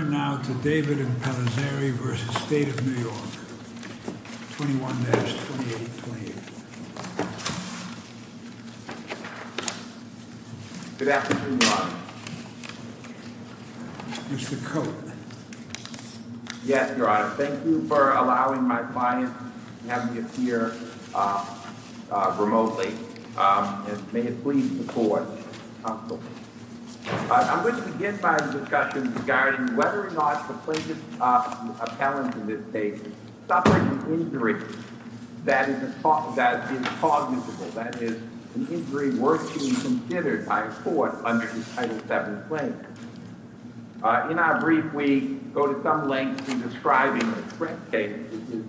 21-2828. Good afternoon, Your Honor. Mr. Coate. Yes, Your Honor. Thank you for allowing my client to have me appear remotely, and may it please the Court have a moment of silence. I'm going to begin by a discussion regarding whether or not the plaintiff's appellant in this case suffered an injury that is cognitive, that is, an injury worthy to be considered by a court under this Title VII claim. In our brief, we go to some length in describing the Sprint case, which is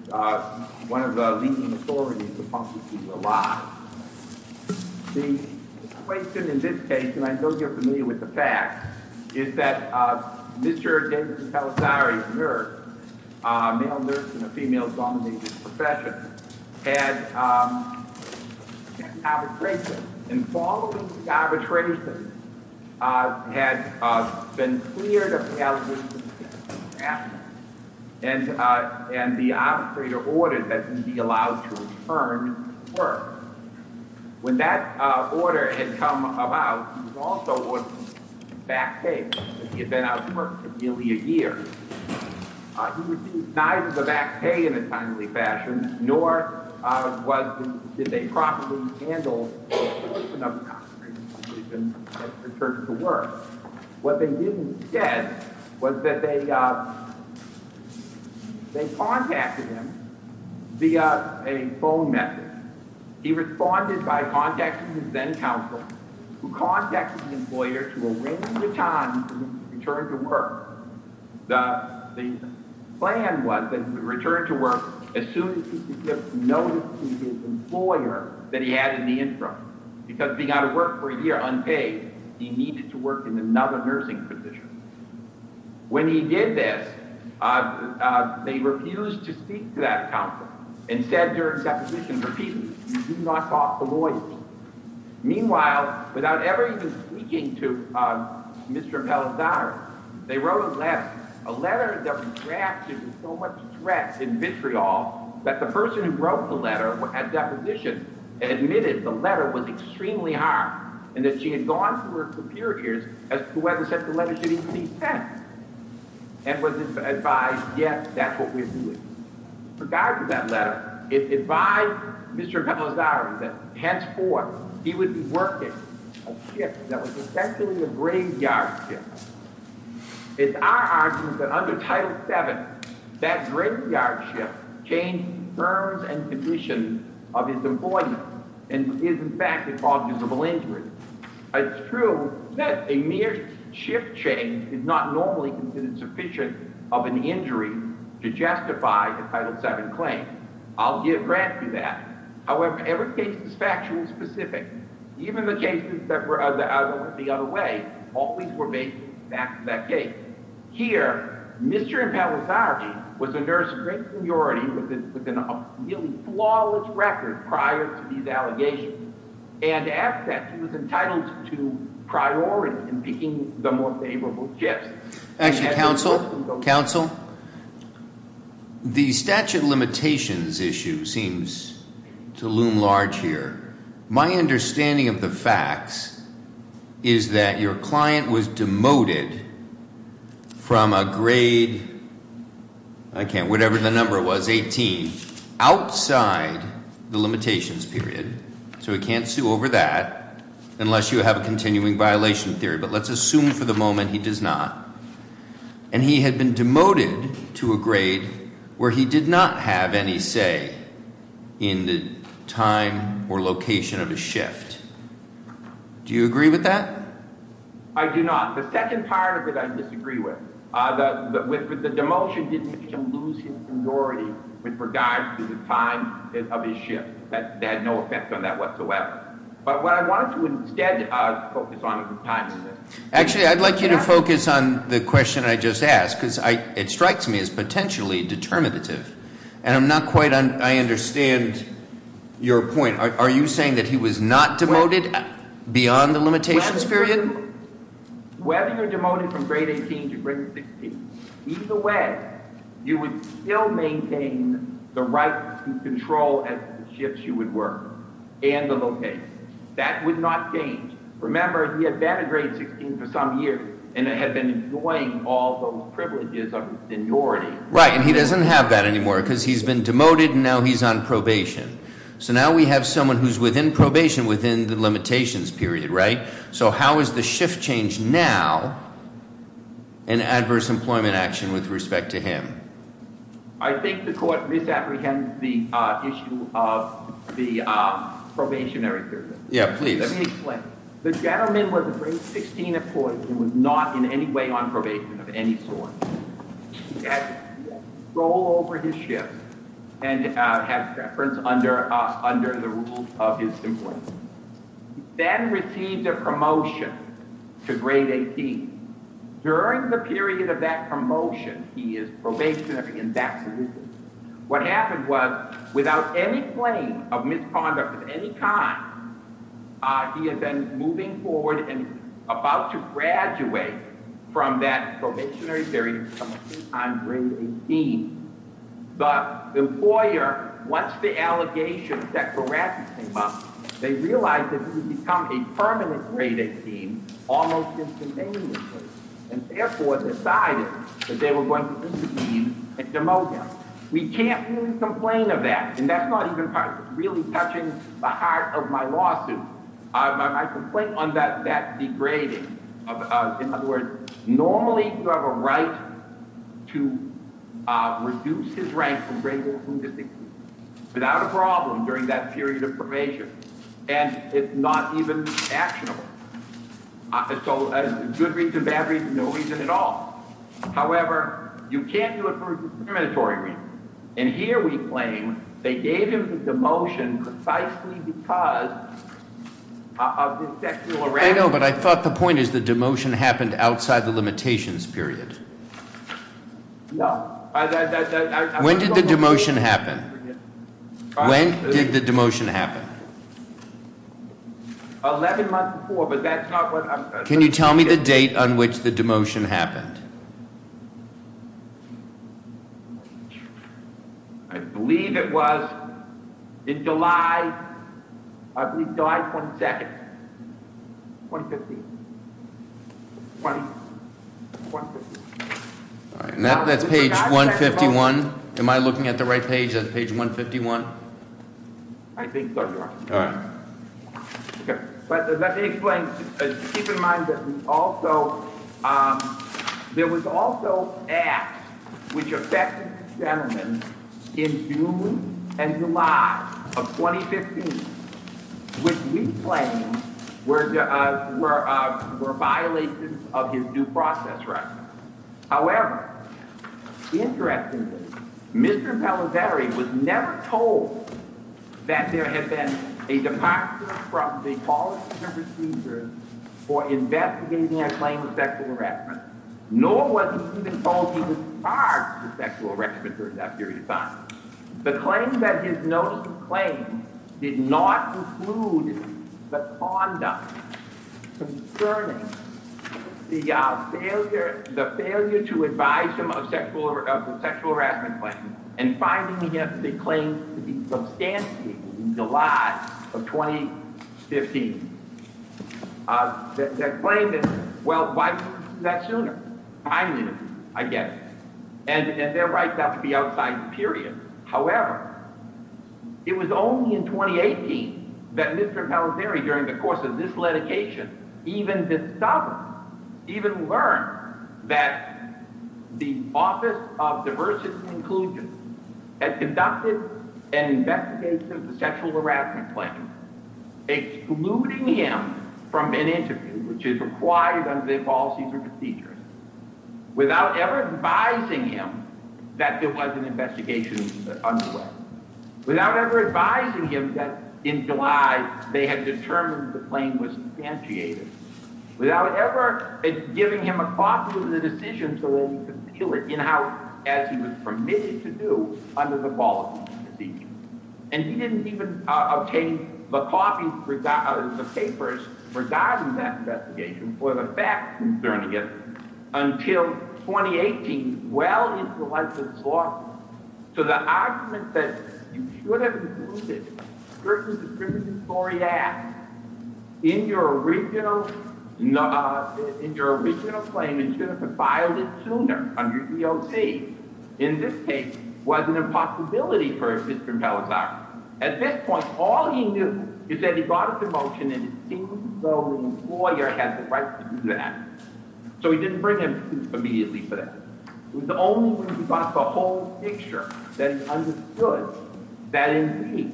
one of the leading The question in this case, and I know you're familiar with the facts, is that Mr. Davidson Pellissari, a nurse, a male nurse in a female-dominated profession, had an arbitration, and following the arbitration, had been cleared of the allegations against him, and the arbitrator ordered that he be allowed to return to work. When that order had come about, he was also ordered to back pay, because he had been out of work for nearly a year. He received neither the back pay in a timely fashion, nor did they properly handle the motion of the concentration camp that he had been returned to work. What they didn't get was that they contacted him via a phone message. He responded by contacting his then-counsel, who contacted the employer to arrange the time for him to return to work. The plan was that he would return to work as soon as he could give notice to his employer that he had an interest, because being out of work for a year unpaid, he needed to work in another nursing position. When he did this, they refused to speak to that counsel, and said during deposition, repeatedly, do not talk to lawyers. Meanwhile, without ever even speaking to Mr. Pellissari, they wrote a letter. A letter that was drafted with so much stress and vitriol that the person who wrote the letter at deposition admitted the letter was extremely hard, and that she had gone through periods as to whether such a letter should even be sent, and was advised, yes, that's what we're doing. Regardless of that letter, it advised Mr. Pellissari that henceforth, he would be working a shift that was essentially a graveyard shift. It's our argument that under Title VII, that graveyard shift changed terms and conditions of his employment, and in fact, it caused visible injury. It's true that a mere shift change is not normally considered sufficient of an injury to justify a Title VII claim. I'll grant you that. However, every case is factual and specific. Even the cases that were out of the other way, always were based back to that case. Here, Mr. Pellissari was a nurse of great priority with a really flawless record prior to these allegations, and as such, he was entitled to priority in picking the more favorable shifts. Actually, counsel, the statute limitations issue seems to loom large here. My understanding of the facts is that your client was demoted from a grade, whatever the number was, 18, outside the limitations period, so he can't sue over that unless you have a continuing violation theory, but let's assume for the moment he does not, and he had been demoted to a grade where he did not have any say in the time or location of a shift. Do you agree with that? I do not. The second part of it I disagree with. The demotion didn't even lose his priority with regards to the time of his shift. That had no effect on that whatsoever. But what I want to instead focus on is the timing of it. Actually, I'd like you to focus on the question I just asked, because it strikes me as potentially determinative, and I'm not quite—I understand your point. Are you saying that he was not demoted beyond the limitations period? Whether you're demoted from grade 18 to grade 16, either way, you would still maintain the right to control the shifts you would work and the location. That would not change. Remember, he had been a grade 16 for some years and had been enjoying all those privileges of seniority. Right, and he doesn't have that anymore, because he's been demoted and now he's on probation. So now we have someone who's within probation within the limitations period, right? So how is the shift change now an adverse employment action with respect to him? I think the court misapprehended the issue of the probationary period. Yeah, please. Let me explain. The gentleman was a grade 16 employee and was not in any way on probation of any sort. He had control over his shift and had preference under the rules of his employment. Then received a promotion to grade 18. During the period of that promotion, he is probationary in that position. What happened was, without any claim of misconduct of any kind, he had been moving forward and about to graduate from that probationary period on grade 18. But the employer, once the allegations that were raised came up, they realized that he would become a permanent grade 18 almost instantaneously, and therefore decided that they were going to intervene and demote him. We can't really complain of that, and that's not even really touching the heart of my lawsuit. I complain on that degrading. In other words, normally you have a right to reduce his rank from grade 1 to grade 16 without a problem during that period of probation. And it's not even actionable. So good reason, bad reason, no reason at all. However, you can't do it for a discriminatory reason. And here we claim they gave him the demotion precisely because of his sexual arousal. I know, but I thought the point is the demotion happened outside the limitations period. No. When did the demotion happen? When did the demotion happen? Eleven months before, but that's not what I'm saying. Can you tell me the date on which the demotion happened? I believe it was in July 22, 2015. That's page 151. Am I looking at the right page? That's page 151? I think so, Your Honor. All right. But let me explain. Keep in mind that there was also an act which affected this gentleman in June and July of 2015, which we claim were violations of his due process right. However, interestingly, Mr. Pellevary was never told that there had been a departure from the policy and procedure for investigating a claim of sexual harassment, nor was he even told he was charged with sexual harassment during that period of time. The claim that his notice of claim did not include the conduct concerning the failure to advise him of the sexual harassment claim and finding the claim to be substantiated in July of 2015. The claim that, well, why didn't you do that sooner? I knew. I get it. And their rights have to be outside the period. However, it was only in 2018 that Mr. Pellevary, during the course of this litigation, even discovered, even learned, that the Office of Diversity and Inclusion had conducted an investigation of the sexual harassment claim, excluding him from an interview, which is required under the policies and procedures, without ever advising him that there was an investigation underway, without ever advising him that in July they had determined the claim was substantiated, without ever giving him a copy of the decision so that he could feel it in-house as he was permitted to do under the policies and procedures. And he didn't even obtain the copies, the papers, regarding that investigation for the fact concerning it until 2018. Well-intellectuals lost it. So the argument that you should have included certain discriminatory acts in your original claim and you should have filed it sooner under EOC, in this case, was an impossibility for Mr. Pellevary. At this point, all he knew is that he got a promotion, and it seemed as though the employer had the right to do that. So he didn't bring him immediately for that. It was only when he got the whole picture that he understood that, indeed,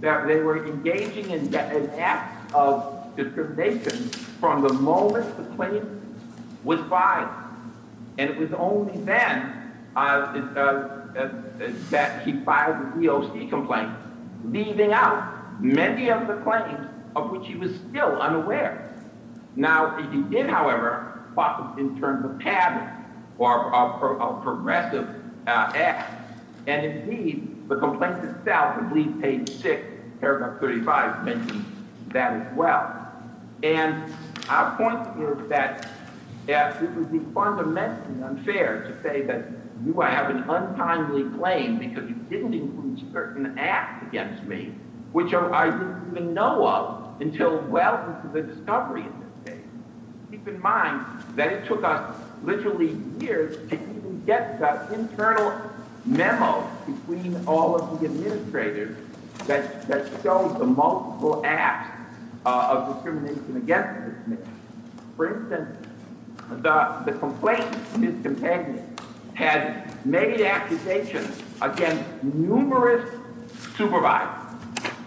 that they were engaging in an act of discrimination from the moment the claim was filed. And it was only then that he filed the EOC complaint, leaving out many of the claims of which he was still unaware. Now, he did, however, focus in terms of padding for a progressive act, and, indeed, the complaint itself, at least page 6, paragraph 35, mentions that as well. And our point is that it would be fundamentally unfair to say that you have an untimely claim because you didn't include certain acts against me, which I didn't even know of until, well, this is a discovery in this case. Keep in mind that it took us literally years to even get the internal memo between all of the administrators that showed the multiple acts of discrimination against this man. For instance, the complaint, his companion had made accusations against numerous supervisors,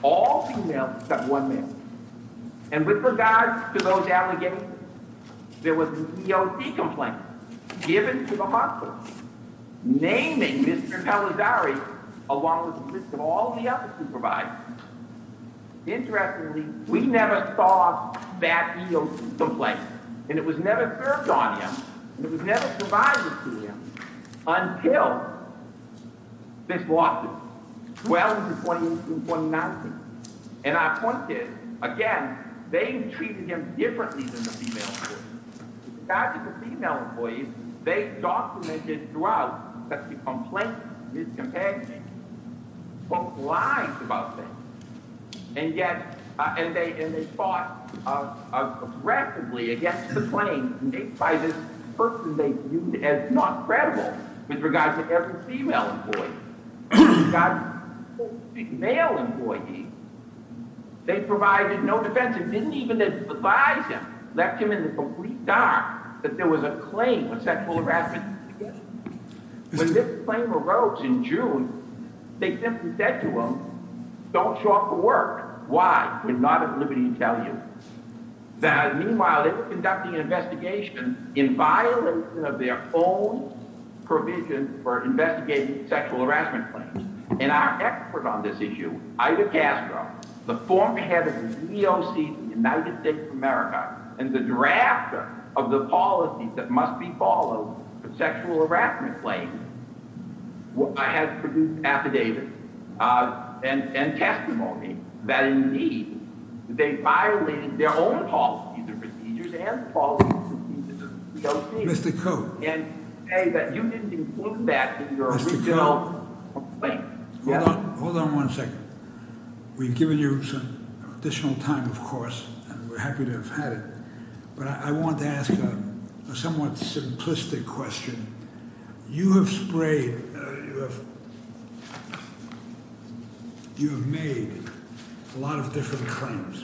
all females except one male. And with regards to those allegations, there was an EOC complaint given to the hospital, naming Mr. Palladari along with the list of all the other supervisors. Interestingly, we never saw that EOC complaint, and it was never served on him, and it was never provided to him until this lawsuit, 12-28-2019. And our point is, again, they treated him differently than the female employees. With regards to the female employees, they documented throughout that the complaint, his companion, spoke lies about him, and they fought aggressively against the claim made by this person they viewed as not credible with regards to every female employee. With regards to every male employee, they provided no defense and didn't even advise him, left him in the complete dark that there was a claim of sexual harassment against him. When this claim arose in June, they simply said to him, don't show up for work. Why? We're not at liberty to tell you. Meanwhile, they were conducting an investigation in violation of their own provision for investigating sexual harassment claims. And our expert on this issue, Ida Castro, the former head of the EOC in the United States of America, and the drafter of the policy that must be followed for sexual harassment claims, has produced affidavits and testimony that, indeed, they violated their own policies and procedures and policies and procedures of the EOC. And say that you didn't include that in your original complaint. Hold on one second. We've given you some additional time, of course, and we're happy to have had it. But I want to ask a somewhat simplistic question. You have sprayed. You have made a lot of different claims.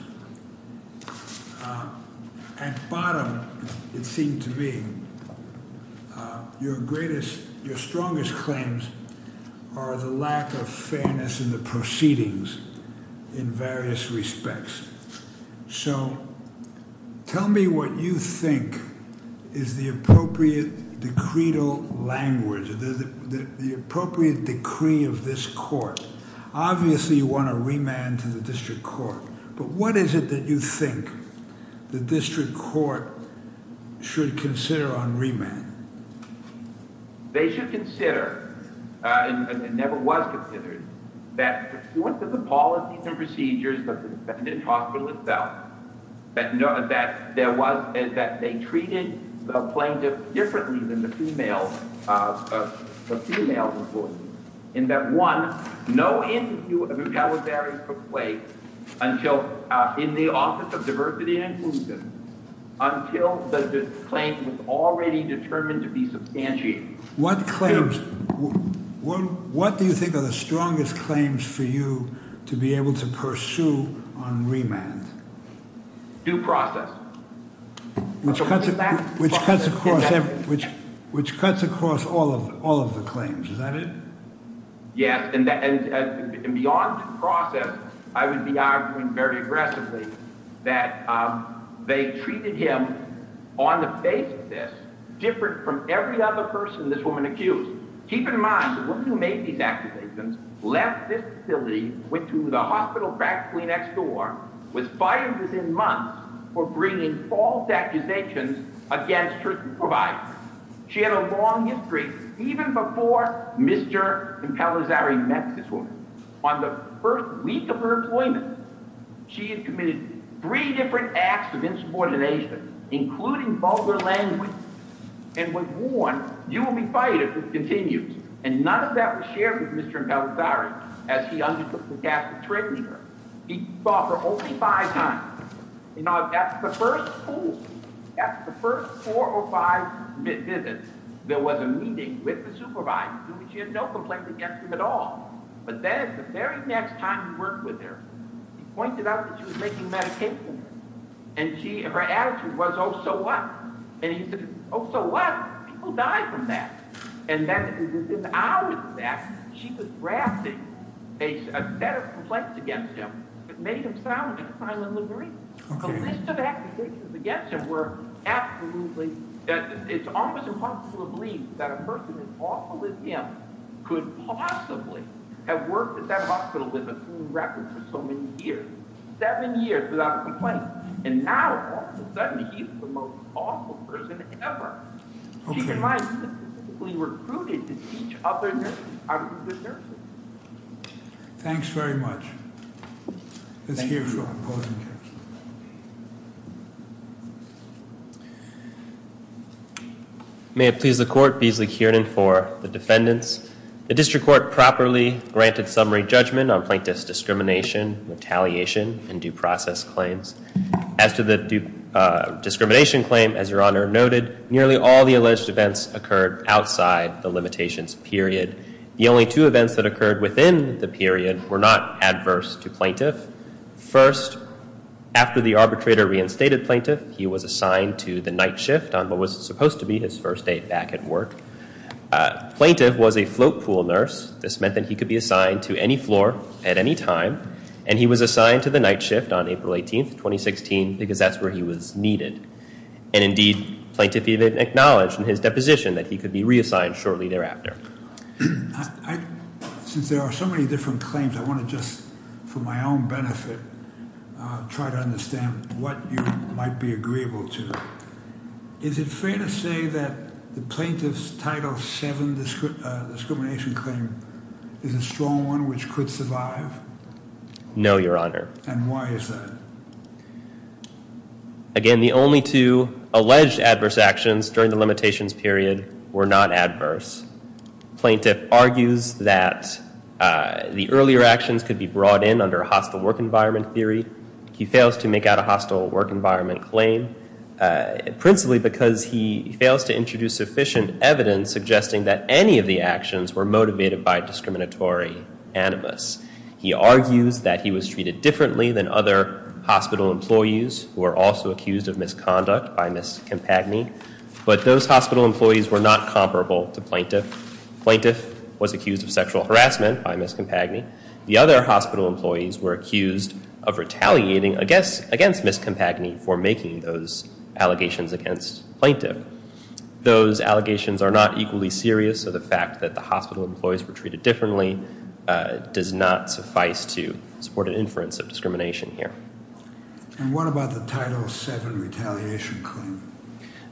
At bottom, it seemed to me your greatest, your strongest claims are the lack of fairness in the proceedings in various respects. So tell me what you think is the appropriate decreed language, the appropriate decree of this court. Obviously, you want to remand to the district court. But what is it that you think the district court should consider on remand? They should consider, and never was considered, that the policies and procedures of the defendant's hospital itself, that they treated the plaintiff differently than the female employee, in that, one, no interview of retaliatory took place in the Office of Diversity and Inclusion until the claim was already determined to be substantiated. What claims? What do you think are the strongest claims for you to be able to pursue on remand? Due process. Which cuts across all of the claims. Is that it? Yes, and beyond due process, I would be arguing very aggressively that they treated him, on the basis of this, different from every other person this woman accused. Keep in mind, the woman who made these accusations left this facility, went to the hospital practically next door, was fired within months for bringing false accusations against her provider. She had a long history, even before Mr. Impelazare met this woman. On the first week of her employment, she had committed three different acts of insubordination, including vulgar language, and was warned, you will be fired if this continues. And none of that was shared with Mr. Impelazare as he undertook the task of treating her. He saw her only five times. That's the first four or five visits there was a meeting with the supervisor. She had no complaints against him at all. But then, the very next time he worked with her, he pointed out that she was making medications. And her attitude was, oh, so what? And he said, oh, so what? People die from that. And then, in the hours of that, she was drafting a set of complaints against him that made him sound like a silent librarian. The list of accusations against him were absolutely, it's almost impossible to believe that a person as awful as him could possibly have worked at that hospital with a clean record for so many years. Seven years without a complaint. And now, all of a sudden, he's the most awful person ever. She and I specifically recruited to teach other nurses. Thanks very much. Thank you. May it please the court, Beasley Kiernan for the defendants. The district court properly granted summary judgment on plaintiff's discrimination, retaliation, and due process claims. As to the discrimination claim, as Your Honor noted, nearly all the alleged events occurred outside the limitations period. The only two events that occurred within the period were not adverse to plaintiff. First, after the arbitrator reinstated plaintiff, he was assigned to the night shift on what was supposed to be his first day back at work. Plaintiff was a float pool nurse. This meant that he could be assigned to any floor at any time. And he was assigned to the night shift on April 18th, 2016, because that's where he was needed. And indeed, plaintiff even acknowledged in his deposition that he could be reassigned shortly thereafter. Since there are so many different claims, I want to just, for my own benefit, try to understand what you might be agreeable to. Is it fair to say that the plaintiff's Title VII discrimination claim is a strong one which could survive? No, Your Honor. And why is that? Again, the only two alleged adverse actions during the limitations period were not adverse. Plaintiff argues that the earlier actions could be brought in under hostile work environment theory. He fails to make out a hostile work environment claim, principally because he fails to introduce sufficient evidence suggesting that any of the actions were motivated by discriminatory animus. He argues that he was treated differently than other hospital employees who were also accused of misconduct by Ms. Campagny. But those hospital employees were not comparable to plaintiff. Plaintiff was accused of sexual harassment by Ms. Campagny. The other hospital employees were accused of retaliating against Ms. Campagny for making those allegations against plaintiff. Those allegations are not equally serious, so the fact that the hospital employees were treated differently does not suffice to support an inference of discrimination here. And what about the Title VII retaliation claim?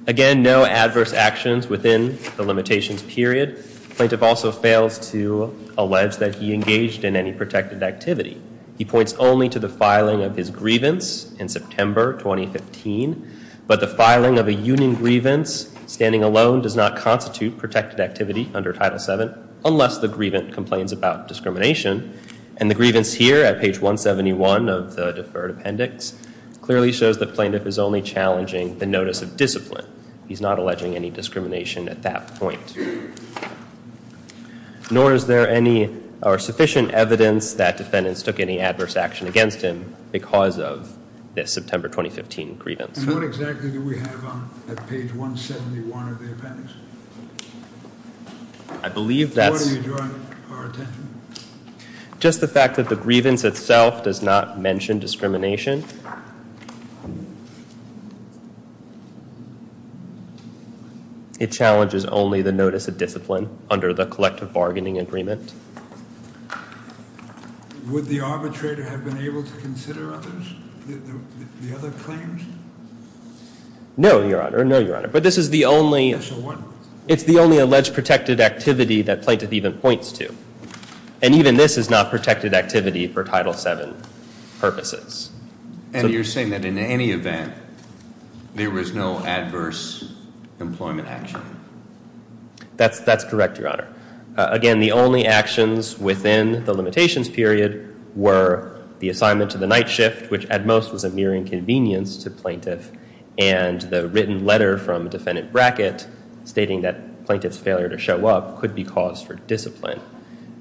Again, no adverse actions within the limitations period. Plaintiff also fails to allege that he engaged in any protected activity. He points only to the filing of his grievance in September 2015. But the filing of a union grievance standing alone does not constitute protected activity under Title VII unless the grievance complains about discrimination. And the grievance here at page 171 of the deferred appendix clearly shows that plaintiff is only challenging the notice of discipline. He's not alleging any discrimination at that point. Nor is there sufficient evidence that defendants took any adverse action against him because of this September 2015 grievance. And what exactly do we have on page 171 of the appendix? I believe that's- What are you drawing our attention to? Just the fact that the grievance itself does not mention discrimination. It challenges only the notice of discipline under the collective bargaining agreement. Would the arbitrator have been able to consider others? The other claims? No, Your Honor. No, Your Honor. But this is the only- So what- It's the only alleged protected activity that plaintiff even points to. And even this is not protected activity for Title VII purposes. And you're saying that in any event there was no adverse employment action? That's correct, Your Honor. Again, the only actions within the limitations period were the assignment to the night shift, which at most was a mere inconvenience to plaintiff, and the written letter from defendant bracket stating that plaintiff's failure to show up could be cause for discipline.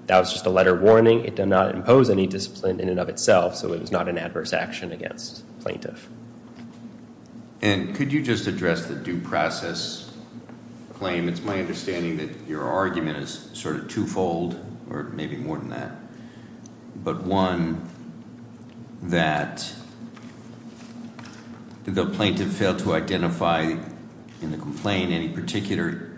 That was just a letter warning. It does not impose any discipline in and of itself, so it was not an adverse action against plaintiff. And could you just address the due process claim? It's my understanding that your argument is sort of twofold, or maybe more than that, but one that the plaintiff failed to identify in the complaint any particular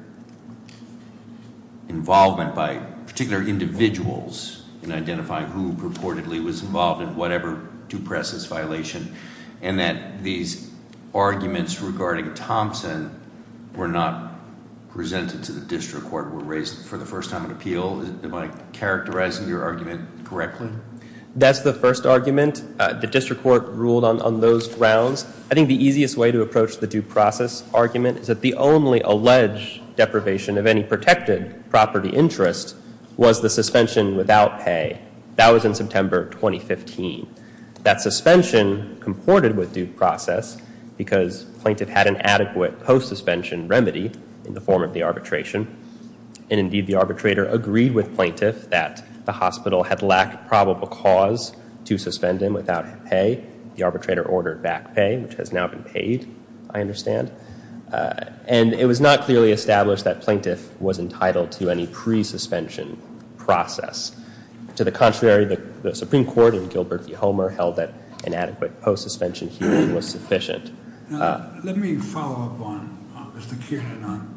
involvement by particular individuals in identifying who purportedly was involved in whatever due process violation, and that these arguments regarding Thompson were not presented to the district court, were raised for the first time in appeal. Am I characterizing your argument correctly? That's the first argument. The district court ruled on those grounds. I think the easiest way to approach the due process argument is that the only alleged deprivation of any protected property interest was the suspension without pay. That was in September 2015. That suspension comported with due process because plaintiff had an adequate post-suspension remedy in the form of the arbitration, and indeed the arbitrator agreed with plaintiff that the hospital had lacked probable cause to suspend him without pay. The arbitrator ordered back pay, which has now been paid, I understand. And it was not clearly established that plaintiff was entitled to any pre-suspension process. To the contrary, the Supreme Court in Gilbert v. Homer held that an adequate post-suspension hearing was sufficient. Let me follow up on Mr. Kiernan on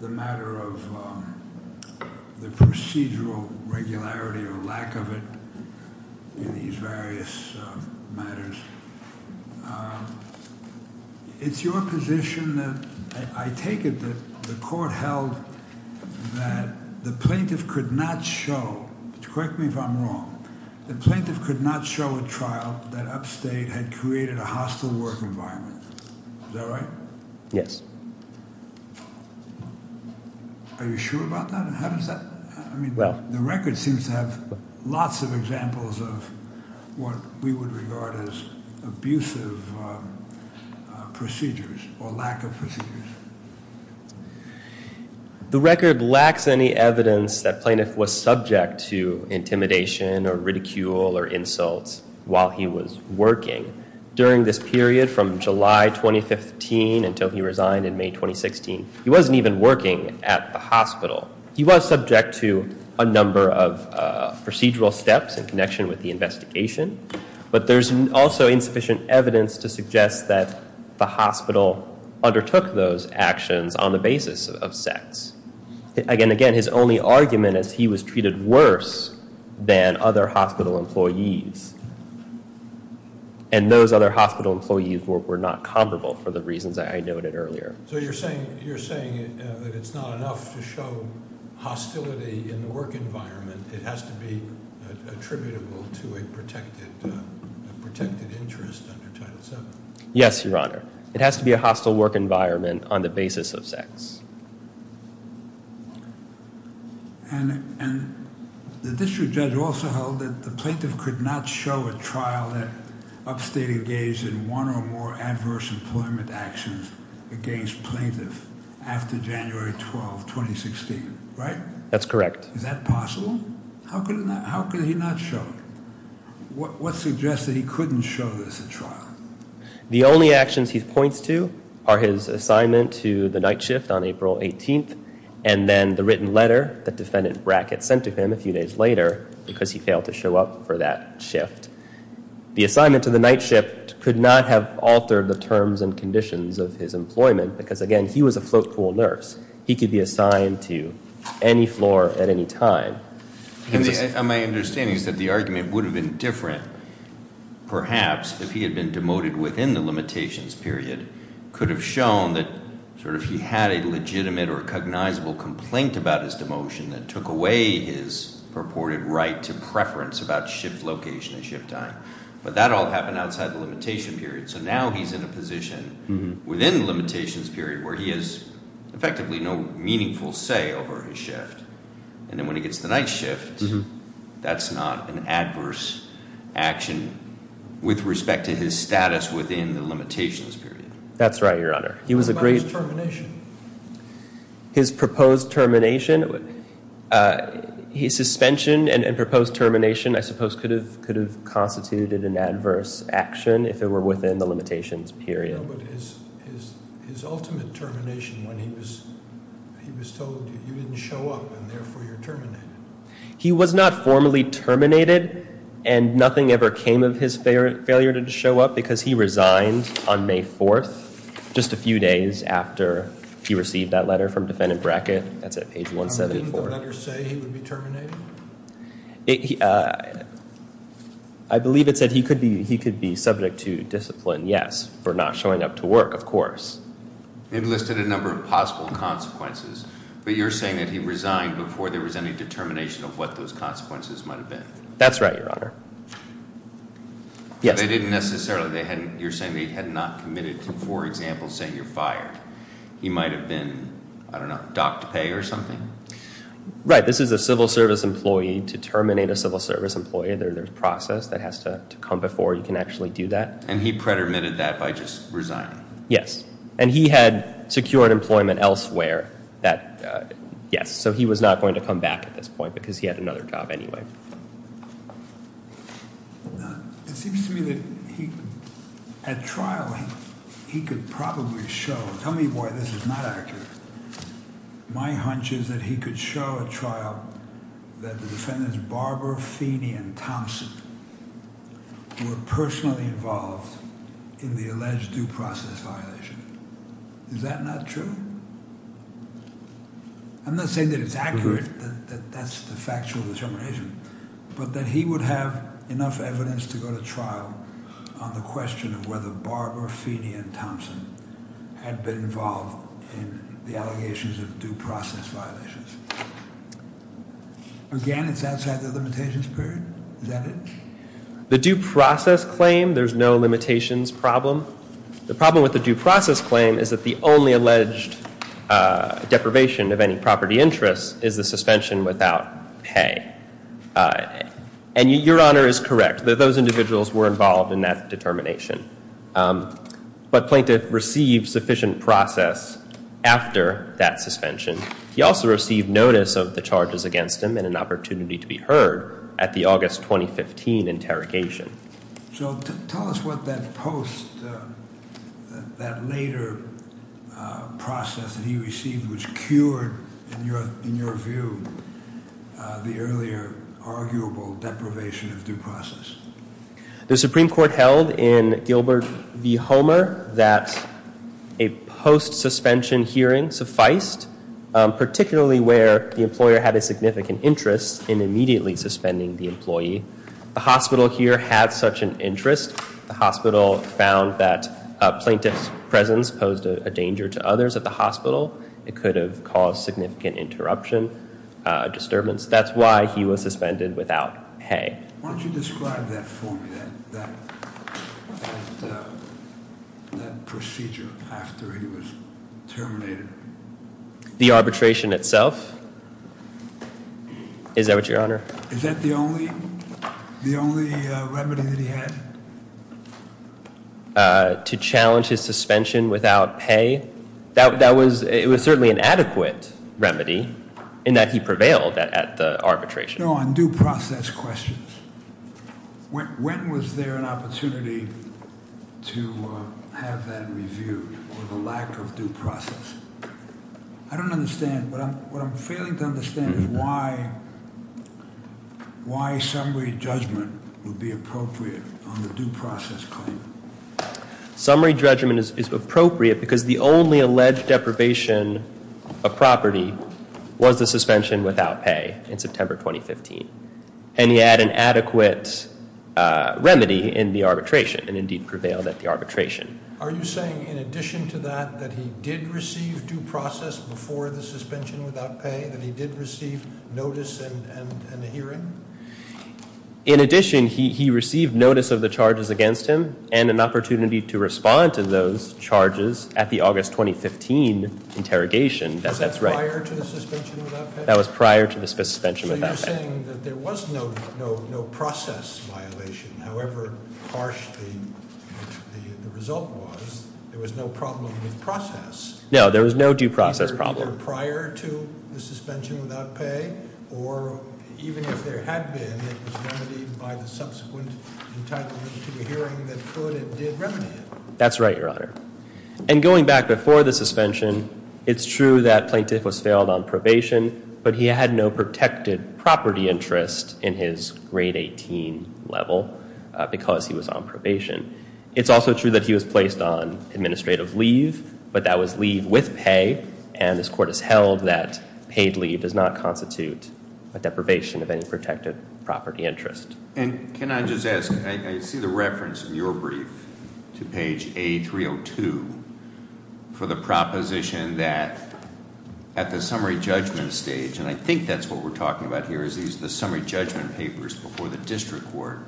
the matter of the procedural regularity or lack of it in these various matters. It's your position that I take it that the court held that the plaintiff could not show, correct me if I'm wrong, that plaintiff could not show a trial that upstate had created a hostile work environment. Is that right? Yes. Are you sure about that? How does that, I mean, the record seems to have lots of examples of what we would regard as abusive procedures or lack of procedures. The record lacks any evidence that plaintiff was subject to intimidation or ridicule or insults while he was working. During this period from July 2015 until he resigned in May 2016, he wasn't even working at the hospital. He was subject to a number of procedural steps in connection with the investigation, but there's also insufficient evidence to suggest that the hospital undertook those actions on the basis of sex. Again, his only argument is he was treated worse than other hospital employees, and those other hospital employees were not comparable for the reasons I noted earlier. So you're saying that it's not enough to show hostility in the work environment. It has to be attributable to a protected interest under Title VII. Yes, Your Honor. It has to be a hostile work environment on the basis of sex. And the district judge also held that the plaintiff could not show a trial that upstate engaged in one or more adverse employment actions against plaintiff after January 12, 2016, right? That's correct. Is that possible? How could he not show it? What suggests that he couldn't show this at trial? The only actions he points to are his assignment to the night shift on April 18th and then the written letter that Defendant Brackett sent to him a few days later because he failed to show up for that shift. The assignment to the night shift could not have altered the terms and conditions of his employment because, again, he was a float pool nurse. He could be assigned to any floor at any time. My understanding is that the argument would have been different perhaps if he had been demoted within the limitations period. It could have shown that sort of he had a legitimate or cognizable complaint about his demotion that took away his purported right to preference about shift location and shift time. But that all happened outside the limitation period. So now he's in a position within the limitations period where he has effectively no meaningful say over his shift. And then when he gets to the night shift, that's not an adverse action with respect to his status within the limitations period. That's right, Your Honor. What about his termination? His proposed termination? His suspension and proposed termination I suppose could have constituted an adverse action if it were within the limitations period. But his ultimate termination when he was told you didn't show up and therefore you're terminated. He was not formally terminated and nothing ever came of his failure to show up because he resigned on May 4th, just a few days after he received that letter from defendant Brackett. That's at page 174. Didn't the letter say he would be terminated? I believe it said he could be subject to discipline, yes, for not showing up to work, of course. It listed a number of possible consequences. But you're saying that he resigned before there was any determination of what those consequences might have been. That's right, Your Honor. They didn't necessarily, you're saying they had not committed to, for example, saying you're fired. He might have been, I don't know, docked pay or something? Right, this is a civil service employee. To terminate a civil service employee, there's a process that has to come before you can actually do that. And he predetermined that by just resigning? Yes. And he had secured employment elsewhere that, yes, so he was not going to come back at this point because he had another job anyway. It seems to me that he, at trial, he could probably show, tell me why this is not accurate. My hunch is that he could show at trial that the defendants, Barber, Feeney, and Thompson, were personally involved in the alleged due process violation. Is that not true? I'm not saying that it's accurate, that that's the factual determination. But that he would have enough evidence to go to trial on the question of whether Barber, Feeney, and Thompson had been involved in the allegations of due process violations. Again, it's outside the limitations period? Is that it? The due process claim, there's no limitations problem. The problem with the due process claim is that the only alleged deprivation of any property interest is the suspension without pay. And your Honor is correct, that those individuals were involved in that determination. But Plaintiff received sufficient process after that suspension. He also received notice of the charges against him and an opportunity to be heard at the August 2015 interrogation. So tell us what that post, that later process that he received, which cured, in your view, the earlier arguable deprivation of due process. The Supreme Court held in Gilbert v. Homer that a post-suspension hearing sufficed, particularly where the employer had a significant interest in immediately suspending the employee. The hospital here had such an interest. The hospital found that a plaintiff's presence posed a danger to others at the hospital. It could have caused significant interruption, disturbance. That's why he was suspended without pay. Why don't you describe that for me, that procedure after he was terminated? Is that the only remedy that he had? To challenge his suspension without pay? It was certainly an adequate remedy in that he prevailed at the arbitration. No, on due process questions. When was there an opportunity to have that reviewed, or the lack of due process? I don't understand. What I'm failing to understand is why summary judgment would be appropriate on the due process claim. Summary judgment is appropriate because the only alleged deprivation of property was the suspension without pay in September 2015. And he had an adequate remedy in the arbitration, and indeed prevailed at the arbitration. Are you saying, in addition to that, that he did receive due process before the suspension without pay? That he did receive notice and a hearing? In addition, he received notice of the charges against him, and an opportunity to respond to those charges at the August 2015 interrogation. Was that prior to the suspension without pay? That was prior to the suspension without pay. You're saying that there was no process violation, however harsh the result was. There was no problem with process. No, there was no due process problem. Either prior to the suspension without pay, or even if there had been, it was remedied by the subsequent entitlement to a hearing that could and did remedy it. That's right, Your Honor. And going back before the suspension, it's true that Plaintiff was failed on probation, but he had no protected property interest in his grade 18 level because he was on probation. It's also true that he was placed on administrative leave, but that was leave with pay, and this court has held that paid leave does not constitute a deprivation of any protected property interest. And can I just ask, I see the reference in your brief to page A302 for the proposition that at the summary judgment stage, and I think that's what we're talking about here is the summary judgment papers before the district court,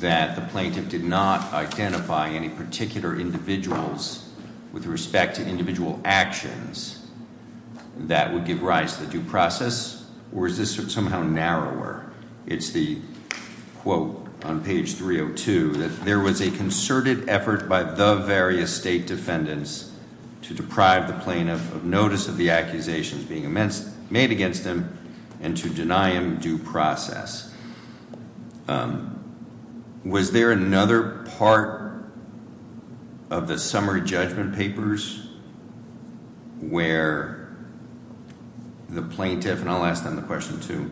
that the plaintiff did not identify any particular individuals with respect to individual actions that would give rise to due process, or is this somehow narrower? It's the quote on page 302, that there was a concerted effort by the various state defendants to deprive the plaintiff of notice of the accusations being made against him and to deny him due process. Was there another part of the summary judgment papers where the plaintiff, and I'll ask them the question too,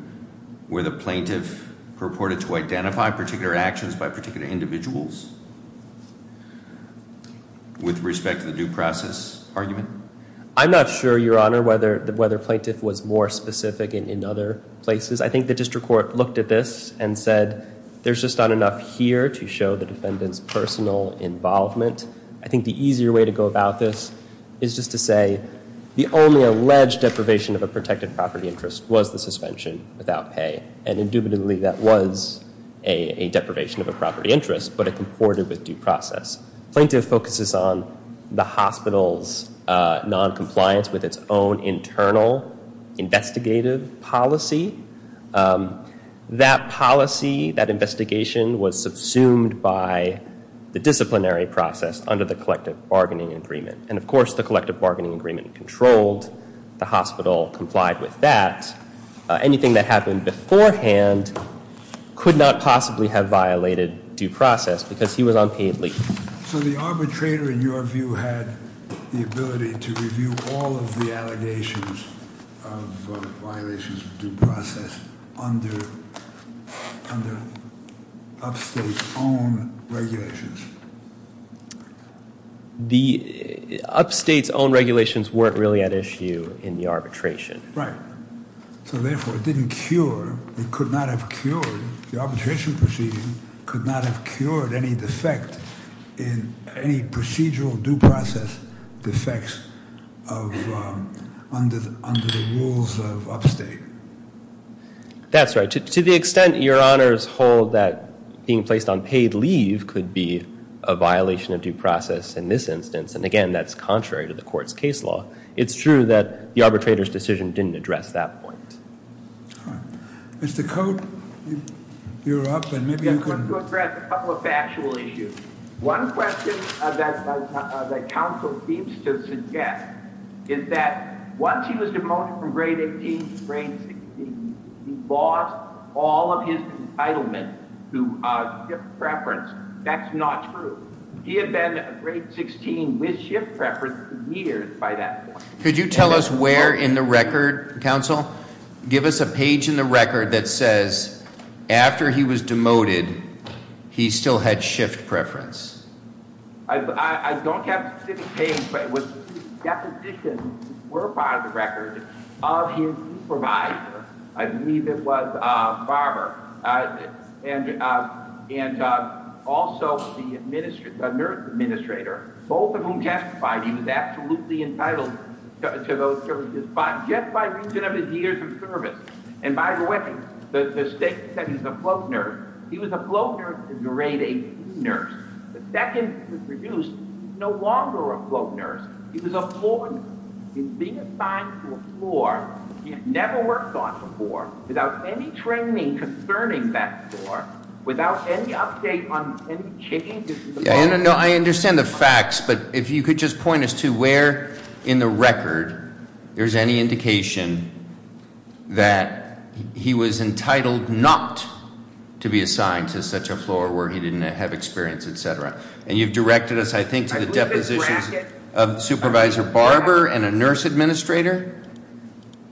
where the plaintiff purported to identify particular actions by particular individuals with respect to the due process argument? I'm not sure, Your Honor, whether the plaintiff was more specific in other places. I think the district court looked at this and said there's just not enough here to show the defendant's personal involvement. I think the easier way to go about this is just to say the only alleged deprivation of a protected property interest was the suspension without pay, and indubitably that was a deprivation of a property interest, but it comported with due process. Plaintiff focuses on the hospital's noncompliance with its own internal investigative policy. That policy, that investigation was subsumed by the disciplinary process under the collective bargaining agreement, and of course the collective bargaining agreement controlled the hospital, complied with that. Anything that happened beforehand could not possibly have violated due process because he was on paid leave. So the arbitrator, in your view, had the ability to review all of the allegations of violations of due process under upstate's own regulations? The upstate's own regulations weren't really at issue in the arbitration. Right. So therefore it didn't cure, it could not have cured, the arbitration proceeding could not have cured any defect, any procedural due process defects under the rules of upstate. That's right. To the extent your honors hold that being placed on paid leave could be a violation of due process in this instance, and again that's contrary to the court's case law, it's true that the arbitrator's decision didn't address that point. Mr. Cote, you're up, and maybe you could- I just want to address a couple of factual issues. One question that counsel seems to suggest is that once he was demoted from grade 18 to grade 16, he lost all of his entitlement to shift preference. That's not true. He had been grade 16 with shift preference for years by that point. Could you tell us where in the record, counsel, give us a page in the record that says, after he was demoted, he still had shift preference? I don't have a specific page, but the depositions were part of the record of his supervisor. I believe it was Barber. And also the nurse administrator, both of whom testified he was absolutely entitled to those services, but just by reason of his years of service. And by the way, the state said he was a float nurse. He was a float nurse to grade 18 nurse. The second was reduced. He was no longer a float nurse. He was a floor nurse. He was being assigned to a floor he had never worked on before without any training concerning that floor, without any update on any changes. No, I understand the facts, but if you could just point us to where in the record there's any indication that he was entitled not to be assigned to such a floor where he didn't have experience, et cetera. And you've directed us, I think, to the depositions of Supervisor Barber and a nurse administrator?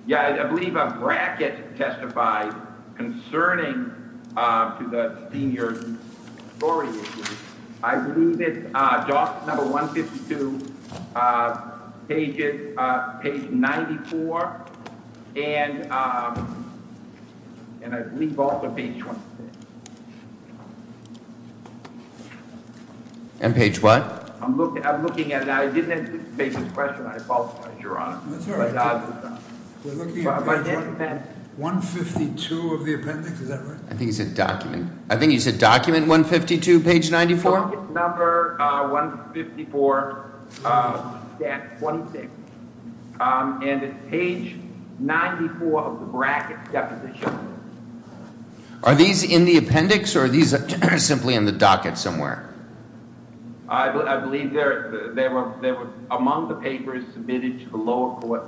Yeah, I believe a bracket testified concerning to the senior story issue. I believe it's document number 152, page 94, and I believe also page 26. And page what? I'm looking at it now. I didn't anticipate this question. I apologize, Your Honor. That's all right. We're looking at page 152 of the appendix. Is that right? I think he said document. I think he said document 152, page 94. Docket number 154. Yeah, 26. And it's page 94 of the bracket deposition. Are these in the appendix or are these simply in the docket somewhere? I believe they were among the papers submitted to the lower court.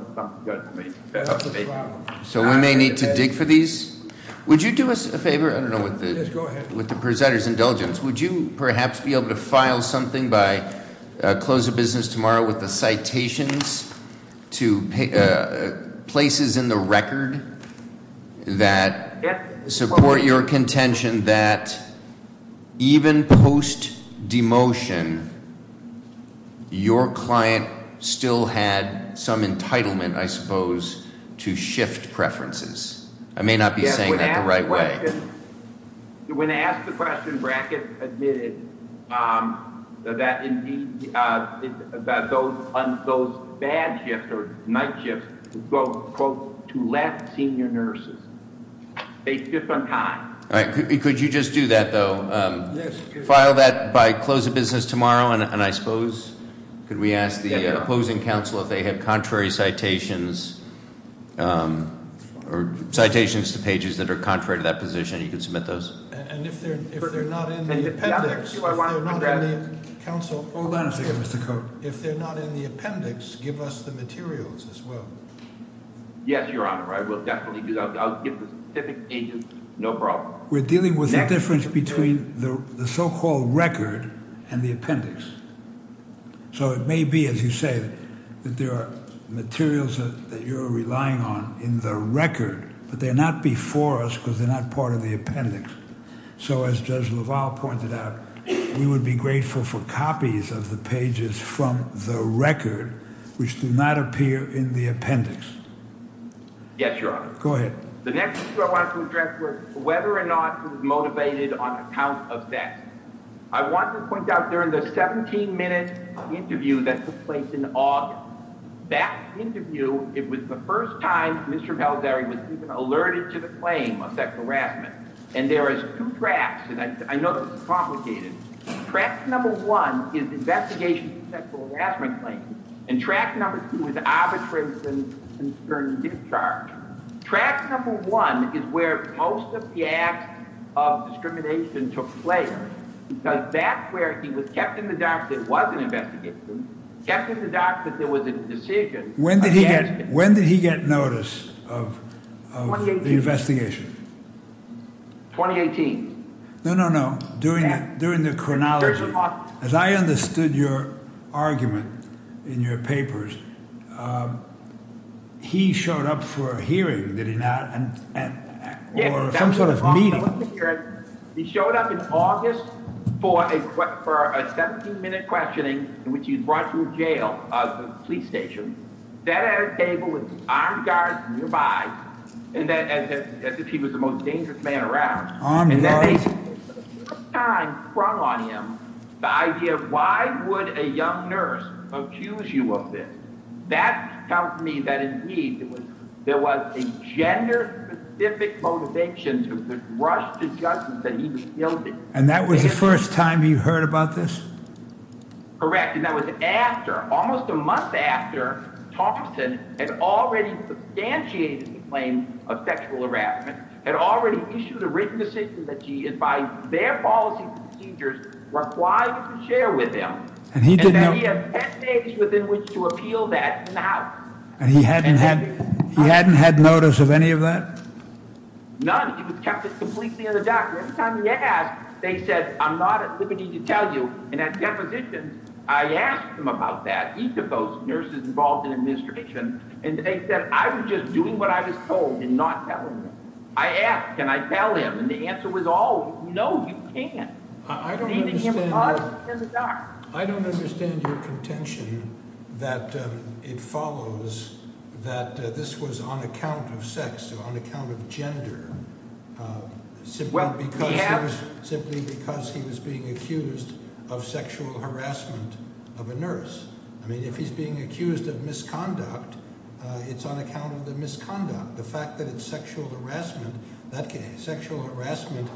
So we may need to dig for these. Would you do us a favor? Yes, go ahead. With the presenter's indulgence, would you perhaps be able to file something by close of business tomorrow with the citations to places in the record that support your contention that even post demotion your client still had some entitlement, I suppose, to shift preferences? I may not be saying that the right way. When I asked the question, Brackett admitted that those bad shifts or night shifts go, quote, to left senior nurses. They shift on time. All right. Could you just do that, though? Yes. File that by close of business tomorrow, and I suppose could we ask the opposing counsel if they have contrary citations or citations to pages that are contrary to that position? You can submit those. And if they're not in the appendix, if they're not in the council- Hold on a second, Mr. Coat. If they're not in the appendix, give us the materials as well. Yes, Your Honor. We're dealing with the difference between the so-called record and the appendix. So it may be, as you say, that there are materials that you're relying on in the record, but they're not before us because they're not part of the appendix. So as Judge LaValle pointed out, we would be grateful for copies of the pages from the record which do not appear in the appendix. Yes, Your Honor. Go ahead. The next issue I want to address was whether or not he was motivated on account of sex. I want to point out during the 17-minute interview that took place in August, that interview, it was the first time Mr. Valzeri was even alerted to the claim of sexual harassment. And there is two tracks, and I know this is complicated. Track number one is the investigation of the sexual harassment claim, and track number two is the arbitration concerning discharge. Track number one is where most of the acts of discrimination took place, because that's where he was kept in the dark that it was an investigation, kept in the dark that it was a decision- When did he get notice of the investigation? 2018. No, no, no, during the chronology. As I understood your argument in your papers, he showed up for a hearing, did he not, or some sort of meeting? He showed up in August for a 17-minute questioning in which he was brought to a jail, a police station, sat at a table with armed guards nearby, as if he was the most dangerous man around. And then they for the first time sprung on him the idea of why would a young nurse accuse you of this? That tells me that indeed there was a gender-specific motivation to rush to justice that he was guilty. And that was the first time you heard about this? Correct, and that was after, almost a month after, Thompson had already substantiated his claim of sexual harassment, had already issued a written decision that he advised their policy and procedures required to share with them, and that he had ten days within which to appeal that in the House. And he hadn't had notice of any of that? None. He was kept completely in the dark. Every time he asked, they said, I'm not at liberty to tell you. And at depositions, I asked them about that, each of those nurses involved in administration, and they said I was just doing what I was told and not telling them. I asked, can I tell him? And the answer was always, no, you can't. I don't understand your contention that it follows that this was on account of sex. On account of gender, simply because he was being accused of sexual harassment of a nurse. I mean, if he's being accused of misconduct, it's on account of the misconduct. The fact that it's sexual harassment, sexual harassment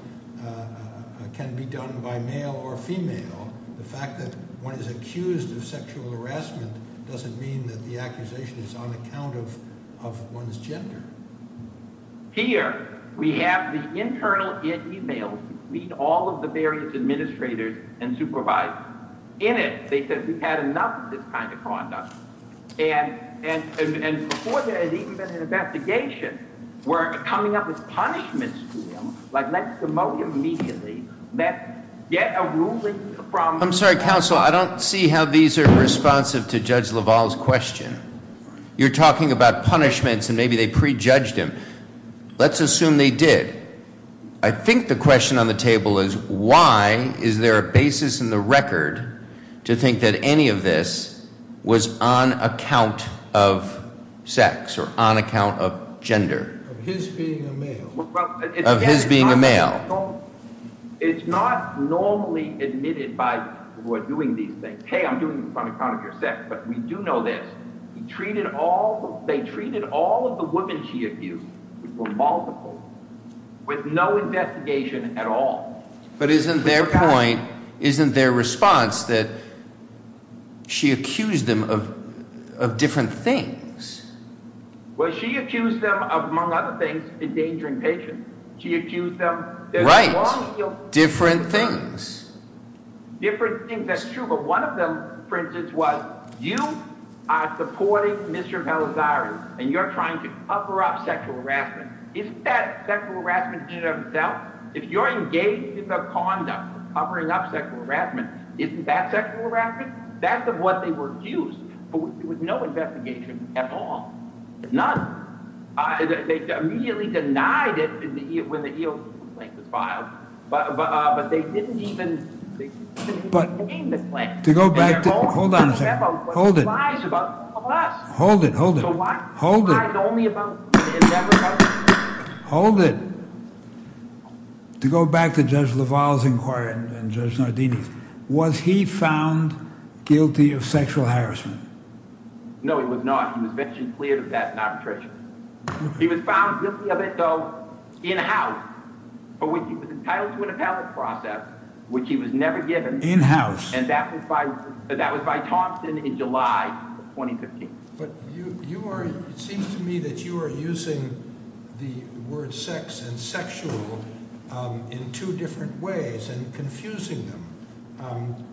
can be done by male or female. The fact that one is accused of sexual harassment doesn't mean that the accusation is on account of one's gender. Here, we have the internal e-mails between all of the various administrators and supervisors. In it, they said we've had enough of this kind of conduct. And before there had even been an investigation, were coming up with punishments to him, like let's demote him immediately, let's get a ruling from— I'm sorry, counsel, I don't see how these are responsive to Judge LaValle's question. You're talking about punishments and maybe they prejudged him. Let's assume they did. I think the question on the table is why is there a basis in the record to think that any of this was on account of sex or on account of gender? Of his being a male. Of his being a male. It's not normally admitted by people who are doing these things. Hey, I'm doing this on account of your sex, but we do know this. They treated all of the women she accused, multiple, with no investigation at all. But isn't their point, isn't their response that she accused them of different things? Well, she accused them of, among other things, endangering patients. She accused them— Right, different things. Different things, that's true, but one of them, for instance, was you are supporting Mr. Velazquez and you're trying to cover up sexual harassment. Isn't that sexual harassment in and of itself? If you're engaged in the conduct of covering up sexual harassment, isn't that sexual harassment? That's of what they were accused, but with no investigation at all. None. They immediately denied it when the EO complaint was filed, but they didn't even name the claim. Hold on a second. Hold it. Hold it. Hold it. Hold it. Hold it. To go back to Judge LaValle's inquiry and Judge Nardini's, was he found guilty of sexual harassment? No, he was not. He was mentioned clear of that in arbitration. He was found guilty of it, though, in-house, for which he was entitled to an appellate process, which he was never given. In-house. And that was by Thompson in July 2015. But you are—it seems to me that you are using the words sex and sexual in two different ways and confusing them.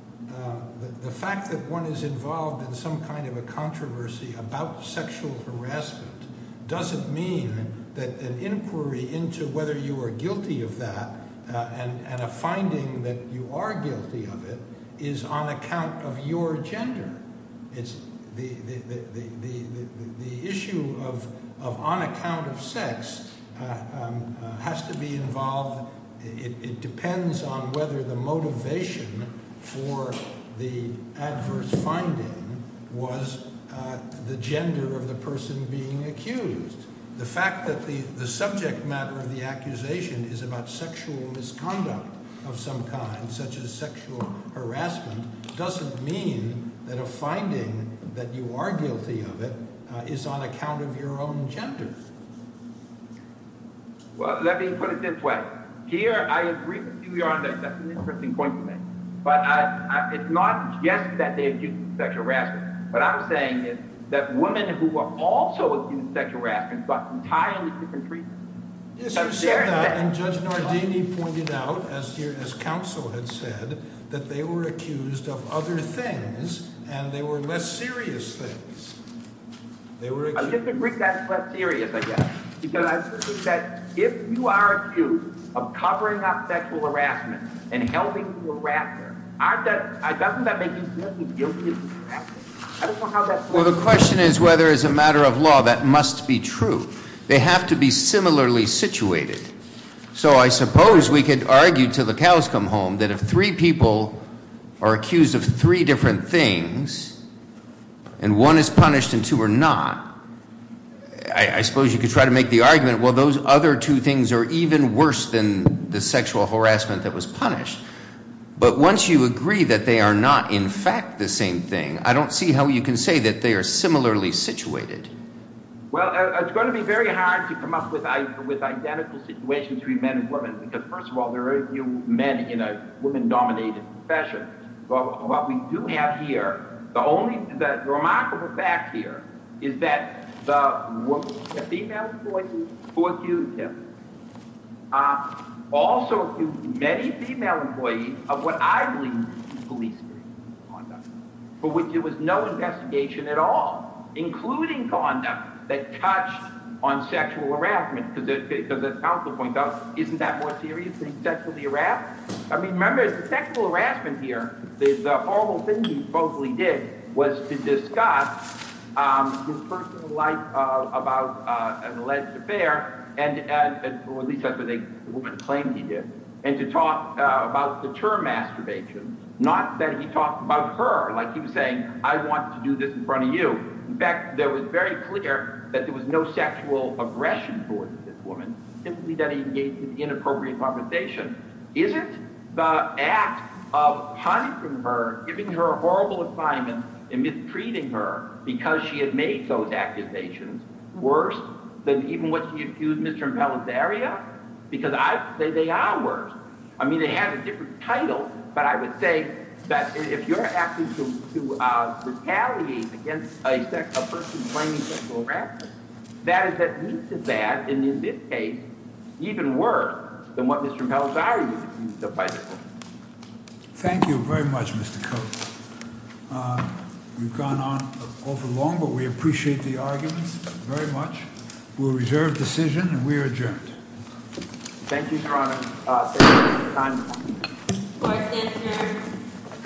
The fact that one is involved in some kind of a controversy about sexual harassment doesn't mean that an inquiry into whether you are guilty of that and a finding that you are guilty of it is on account of your gender. The issue of on account of sex has to be involved—it depends on whether the motivation for the adverse finding was the gender of the person being accused. The fact that the subject matter of the accusation is about sexual misconduct of some kind, such as sexual harassment, doesn't mean that a finding that you are guilty of it is on account of your own gender. Well, let me put it this way. Here, I agree with you, Your Honor, that that's an interesting point to make. But it's not just that they're accused of sexual harassment. What I'm saying is that women who were also accused of sexual harassment got entirely different treatment. Yes, you said that, and Judge Nardini pointed out, as counsel had said, that they were accused of other things, and they were less serious things. I disagree that it's less serious, I guess. Because I think that if you are accused of covering up sexual harassment and helping to wrap it, doesn't that make you guilty of sexual harassment? I don't know how that works. Well, the question is whether, as a matter of law, that must be true. They have to be similarly situated. So I suppose we could argue, till the cows come home, that if three people are accused of three different things, and one is punished and two are not, I suppose you could try to make the argument, well, those other two things are even worse than the sexual harassment that was punished. But once you agree that they are not, in fact, the same thing, I don't see how you can say that they are similarly situated. Well, it's going to be very hard to come up with identical situations between men and women, because, first of all, there are few men in a woman-dominated profession. But what we do have here, the remarkable fact here, is that the female employees who accused him also accused many female employees of what I believe to be police-related conduct, for which there was no investigation at all, including conduct that touched on sexual harassment, because as counsel points out, isn't that more serious than sexually harassed? I mean, remember, the sexual harassment here, the horrible thing he supposedly did, was to discuss his personal life about an alleged affair, or at least that's what the woman claimed he did, and to talk about the term masturbation. Not that he talked about her, like he was saying, I want to do this in front of you. In fact, it was very clear that there was no sexual aggression towards this woman, simply that he engaged in inappropriate conversation. Isn't the act of punishing her, giving her a horrible assignment, and mistreating her, because she had made those accusations, worse than even what she accused Mr. Impella's area? Because I say they are worse. I mean, they have a different title, but I would say that if you're acting to retaliate against a person that is at least as bad, and in this case, even worse, than what Mr. Impella's area used to be. Thank you very much, Mr. Coates. We've gone on for long, but we appreciate the arguments very much. We'll reserve decision, and we are adjourned. Thank you, Your Honor.